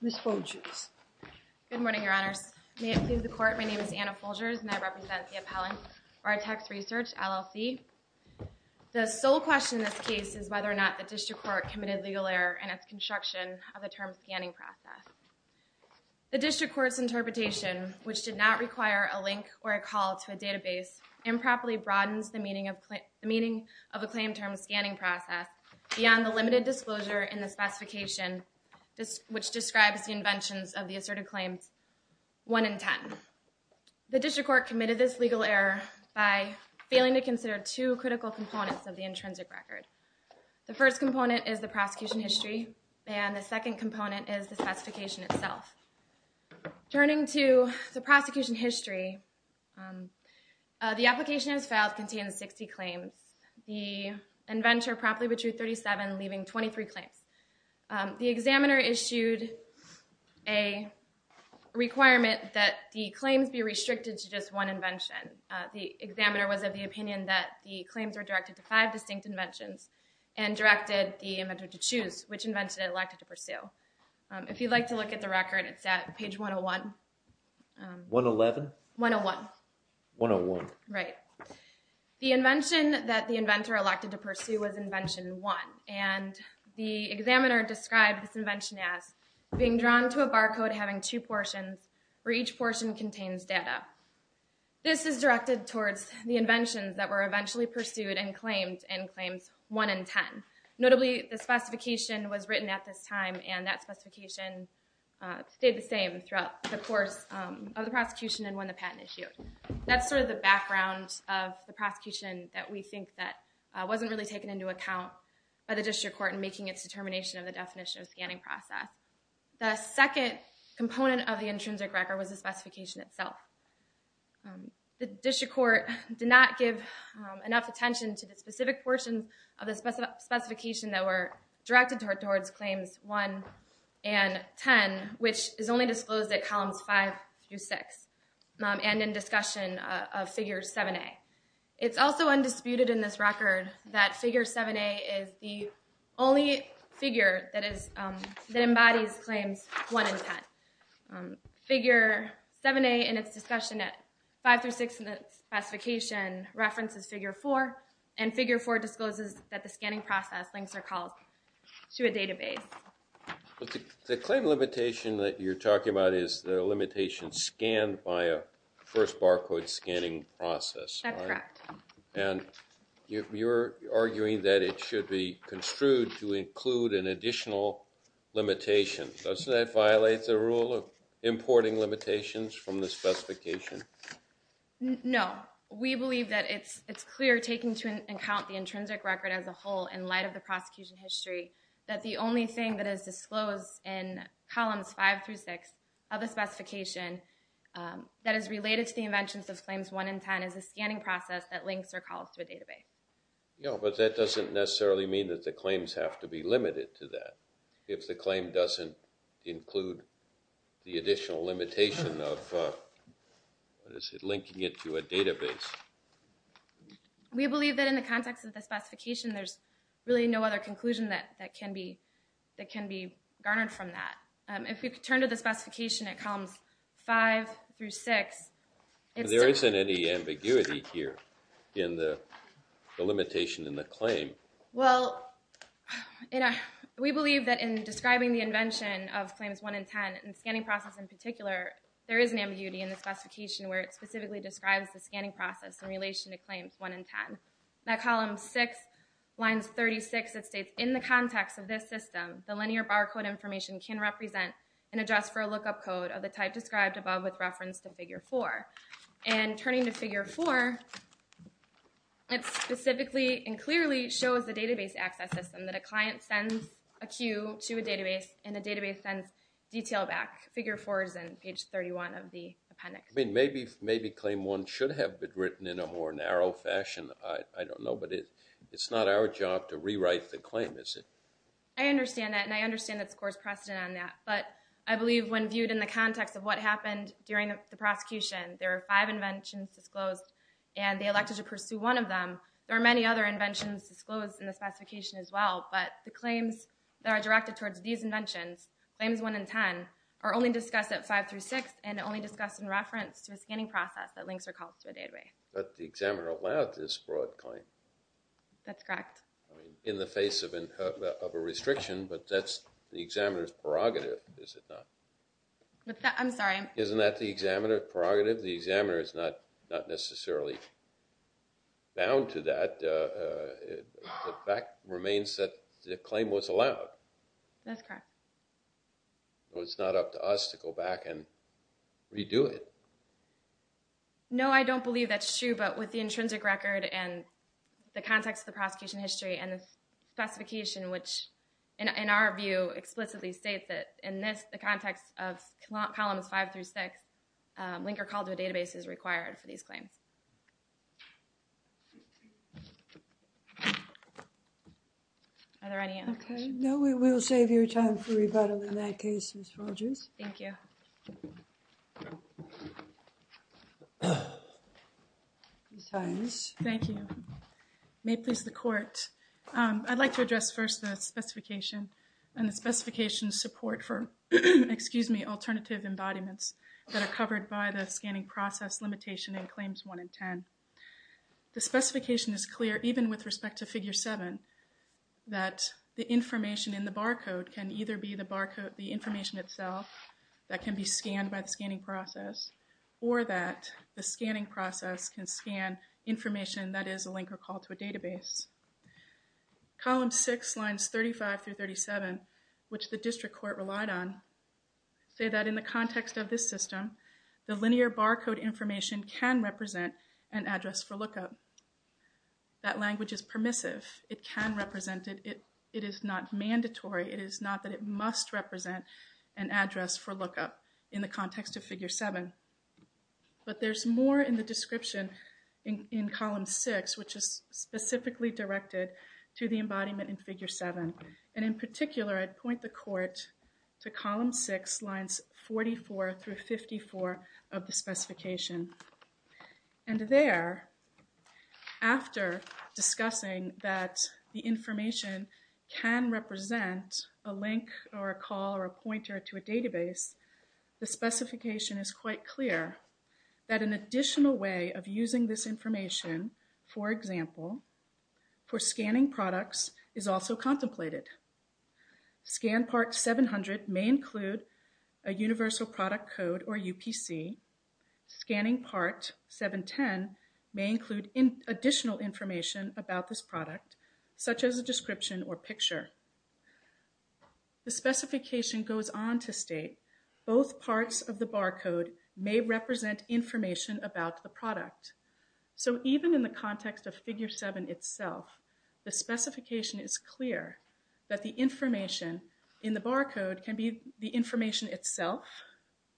Ms. Folgers. Good morning, Your Honors. May it please the Court, my name is Anna Folgers and I represent the appellant, BARTEX RESEARCH, LLC. The sole question in this case is whether or not the District Court committed legal error in its construction of the term scanning process. The District Court's interpretation, which did not require a link or a call to a database, improperly broadens the meaning of a claim term scanning process beyond the limited disclosure in the specification which describes the inventions of the asserted claims 1 and 10. The District Court committed this legal error by failing to consider two critical components of the intrinsic record. The first component is the prosecution history and the second component is the specification itself. Turning to the prosecution history, the application as filed contains 60 claims. The inventor promptly withdrew 37, leaving 23 claims. The examiner issued a requirement that the claims be restricted to just one invention. The examiner was of the opinion that the claims were directed to five distinct inventions and directed the inventor to choose which invention it elected to pursue. If you'd like to look at the record, it's at page 101. The invention that the inventor elected to pursue was invention 1 and the examiner described this invention as being drawn to a barcode having two portions where each portion contains data. This is directed towards the inventions that were eventually pursued and claimed in claims 1 and 10. Notably, the specification was written at this time and that specification stayed the same throughout the course of the prosecution and when the patent issued. That's sort of the background of the prosecution that we think that wasn't really taken into account by the District Court in making its determination of the definition of scanning process. The second component of the intrinsic record was the specification itself. The District Court did not give enough attention to the specific portions of the specification that were directed towards claims 1 and 10, which is only disclosed at columns 5 through 6 and in discussion of figure 7a. It's also undisputed in this record that figure 7a is the only figure that embodies claims 1 and 10. Figure 7a in its discussion at 5 through 6 in the specification references figure 4 and figure 4 discloses that the scanning process links are called to a database. The claim limitation that you're talking about is the limitation scanned by a first barcode scanning process. That's correct. And you're arguing that it should be construed to include an additional limitation. Doesn't that violate the rule of importing limitations from the specification? No. We believe that it's it's clear taking into account the intrinsic record as a whole in light of the prosecution history that the only thing that is related to the inventions of claims 1 and 10 is a scanning process that links or calls to a database. Yeah, but that doesn't necessarily mean that the claims have to be limited to that if the claim doesn't include the additional limitation of linking it to a database. We believe that in the context of the specification there's really no other conclusion that can be garnered from that. If we could turn to the specification at columns 5 through 6. There isn't any ambiguity here in the limitation in the claim. Well, we believe that in describing the invention of claims 1 and 10 and scanning process in particular there is an ambiguity in the specification where it specifically describes the scanning process in relation to claims 1 and 10. At column 6 lines 36 it states in the context of this system the linear barcode information can represent an address for a lookup code of the type described above with reference to figure 4. And turning to figure 4 it specifically and clearly shows the database access system that a client sends a queue to a database and a database sends detail back. Figure 4 is in page 31 of the appendix. I mean maybe claim 1 should have been written in a more narrow fashion. I don't know but it's not our job to rewrite the claim is it? I understand that and I understand that the court's precedent on that but I believe when viewed in the context of what happened during the prosecution there are five inventions disclosed and they elected to pursue one of them. There are many other inventions disclosed in the specification as well but the claims that are directed towards these inventions, claims 1 and 10, are only discussed at 5 through 6 and only discussed in reference to a scanning process that links or calls to a database. But the examiner allowed this broad claim. That's correct. In the face of a restriction but that's the examiner's prerogative is it not? I'm sorry? Isn't that the examiner's prerogative? The examiner is not necessarily bound to that. The fact remains that the claim was I don't believe that's true but with the intrinsic record and the context of the prosecution history and the specification which in our view explicitly states that in this the context of columns 5 through 6 link or call to a database is required for these claims. Are there any other questions? No, we will save your time for rebuttal in that case, Ms. Rogers. Thank you. Ms. Hynes. Thank you. May it please the court. I'd like to address first the specification and the specification support for, excuse me, alternative embodiments that are covered by the scanning process limitation in claims 1 and 10. The specification is clear even with respect to figure 7 that the information in the barcode can either be the barcode, the information itself that can be scanned by the scanning process or that the scanning process can scan information that is a link or call to a database. Column 6 lines 35 through 37 which the district court relied on say that in the context of this system the linear barcode information can represent an address for lookup. That language is permissive. It can represent it. It is not mandatory. It is not that it must represent an address for lookup in the context of figure 7. But there's more in the description in column 6 which is specifically directed to the embodiment in figure 7 and in particular I'd point the court to column 6 lines 44 through 54 of the specification. And there, after discussing that the information can represent a link or a call or a pointer to a database, the specification is quite clear that an additional way of using this information, for example, for scanning products is also contemplated. Scan part 700 may include a additional information about this product such as a description or picture. The specification goes on to state both parts of the barcode may represent information about the product. So even in the context of figure 7 itself the specification is clear that the information in the barcode can be the information itself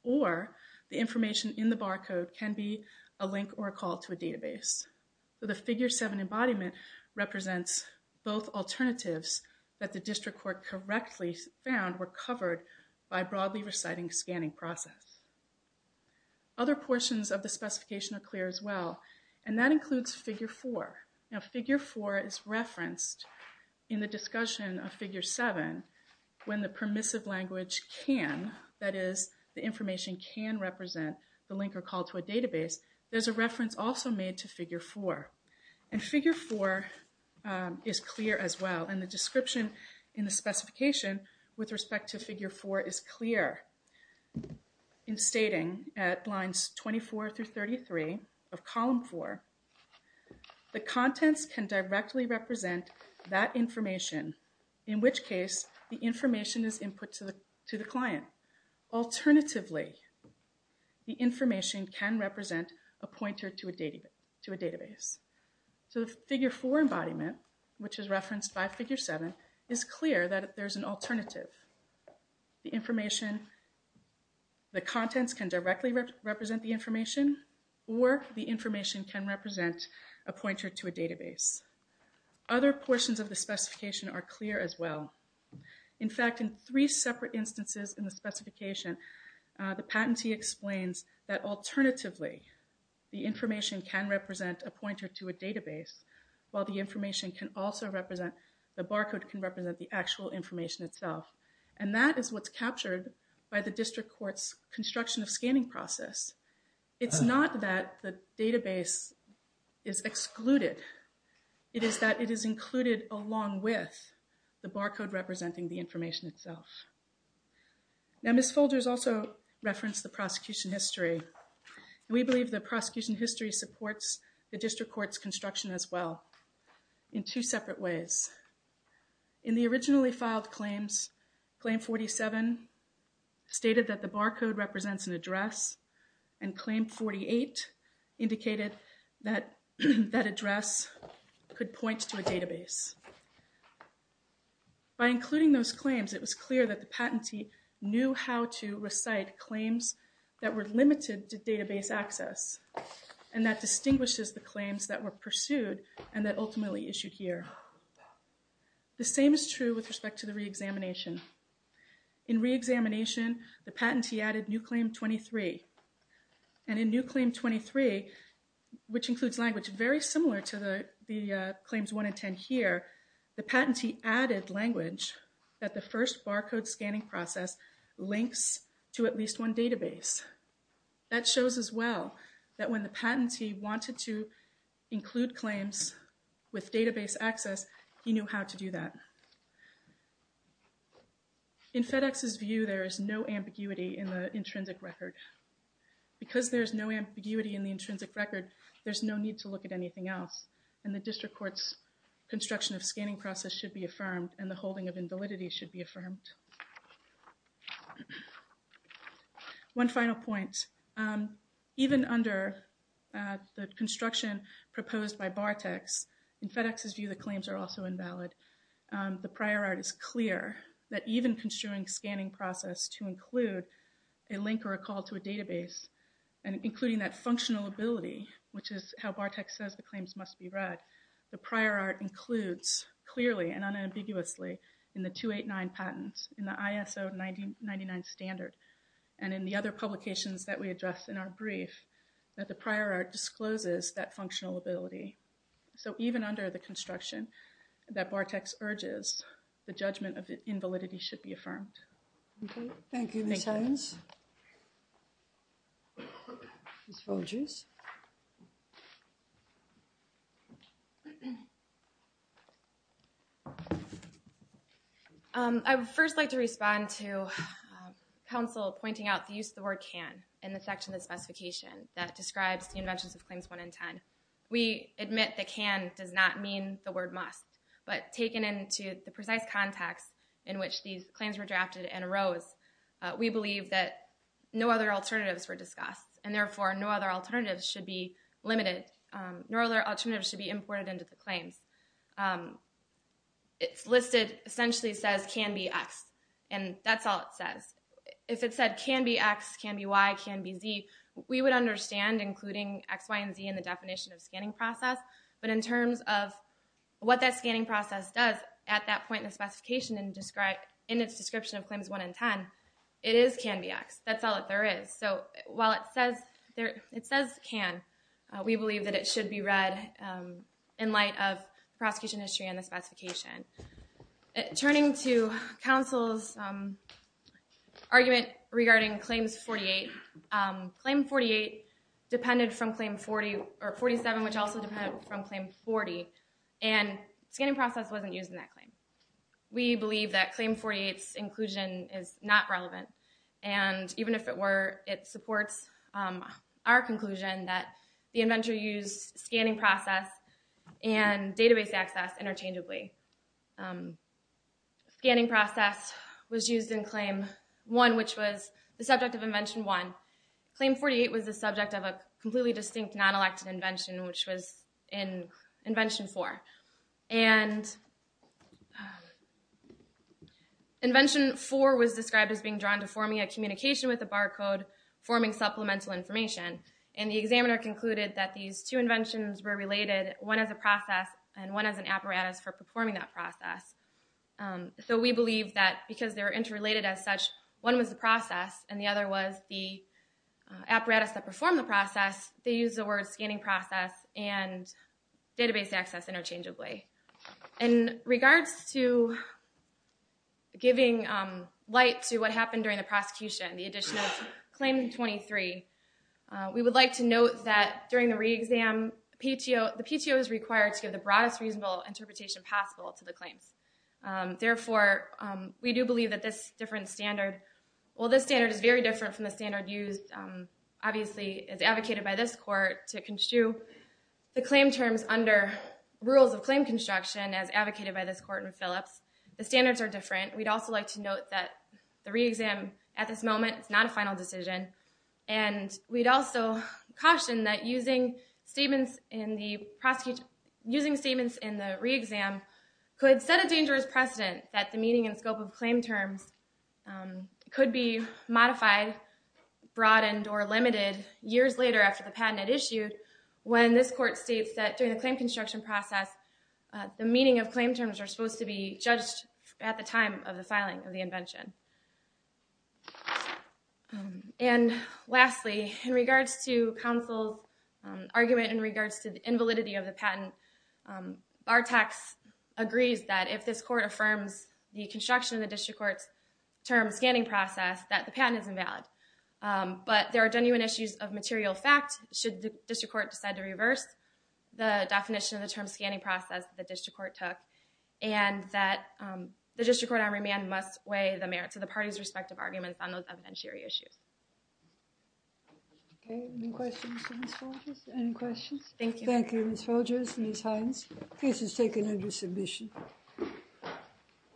or the information in the barcode can be a link or a call to a database. So the figure 7 embodiment represents both alternatives that the district court correctly found were covered by broadly reciting scanning process. Other portions of the specification are clear as well and that includes figure 4. Now figure 4 is referenced in the permissive language can, that is the information can represent the link or call to a database. There's a reference also made to figure 4 and figure 4 is clear as well and the description in the specification with respect to figure 4 is clear in stating at lines 24 through 33 of column 4 the contents can directly represent that information in which case the information is input to the to the client. Alternatively the information can represent a pointer to a database. So the figure 4 embodiment which is referenced by figure 7 is clear that there's an alternative. The information, the contents can directly represent the information or the information can represent a pointer to a database. Other portions of the specification are clear as well. In fact in three separate instances in the specification the patentee explains that alternatively the information can represent a pointer to a database while the information can also represent, the barcode can represent the actual information itself and that is what's captured by the district court's construction of scanning process. It's not that the database is excluded, it is that it is included along with the barcode representing the information itself. Now Ms. Folgers also referenced the prosecution history. We believe the prosecution history supports the district court's construction as well in two separate ways. In the originally filed claims, claim 47 stated that the barcode represents an address and claim 48 indicated that that address could point to a database. By including those claims it was clear that the distinguishes the claims that were pursued and that ultimately issued here. The same is true with respect to the re-examination. In re-examination the patentee added new claim 23 and in new claim 23 which includes language very similar to the claims 1 and 10 here, the patentee added language that the first barcode scanning process links to at least one database. That shows as well that when the patentee wanted to include claims with database access he knew how to do that. In FedEx's view there is no ambiguity in the intrinsic record. Because there's no ambiguity in the intrinsic record there's no need to look at anything else and the district court's construction of scanning process should be affirmed and the holding of invalidity should be affirmed. One final point. Even under the construction proposed by Bartex, in FedEx's view the claims are also invalid. The prior art is clear that even construing scanning process to include a link or a call to a database and including that functional ability which is how Bartex says the claims must be read, the prior art includes clearly and unambiguously in the 289 patents, in the ISO 99 standard and in the other publications that we address in our brief that the prior art discloses that functional ability. So even under the construction that Bartex urges the judgment of invalidity should be affirmed. Thank you Ms. Hines. Ms. Folgers. I would first like to respond to counsel pointing out the use of the word can in the section of the specification that describes the inventions of claims 1 and 10. We admit that can does not mean the word must but taken into the precise context in which these claims were drafted and arose we believe that no other alternatives were discussed and therefore no other alternatives should be limited, no other alternatives should be imported into the claims. It's listed essentially says can be x and that's all it says. If it said can be x, can be y, can be z, we would understand including x, y, and z in the definition of scanning process but in terms of what that scanning process does at that point in the specification and in its description of claims 1 and 10 it is can be x, that's all that there is. So while it says can, we believe that it should be read in light of the prosecution history and the specification. Turning to counsel's argument regarding claims 48, claim 48 depended from claim 47 which also depended from claim 40 and scanning process wasn't using that our conclusion that the inventor used scanning process and database access interchangeably. Scanning process was used in claim 1 which was the subject of invention 1. Claim 48 was the subject of a completely distinct non-elected invention which was in invention 4 and invention 4 was described as being drawn to forming a communication with a barcode forming supplemental information and the examiner concluded that these two inventions were related one as a process and one as an apparatus for performing that process. So we believe that because they were interrelated as such one was the process and the other was the apparatus that performed the process they used the word scanning process and database access interchangeably. In regards to giving light to what happened during the prosecution, the addition of claim 23, we would like to note that during the re-exam the PTO is required to give the broadest reasonable interpretation possible to the claims. Therefore we do believe that this different standard, well this standard is very different from the standard used obviously as advocated by this court to construe the claim terms under rules of claim construction as advocated by this court in Phillips. The standards are different. We'd also like to note that the re-exam at this moment it's not a final decision and we'd also caution that using statements in the prosecution using statements in the re-exam could set a dangerous precedent that the meaning and scope of claim terms could be modified broadened or limited years later after the patent had issued when this court states that during the claim construction process the meaning of claim terms are supposed to be judged at the time of the filing of the invention. And lastly in regards to counsel's argument in regards to the invalidity of the patent, Bartok agrees that if this court affirms the construction of the district court's term scanning process that the patent is invalid. But there are genuine issues of material fact should the district court decide to reverse the definition of the term scanning process the district court took and that the district court on remand must weigh the merits of the agreement on those evidentiary issues. Okay, any questions for Ms. Folgers? Any questions? Thank you. Thank you Ms. Folgers, Ms. Hines. Case is taken under submission.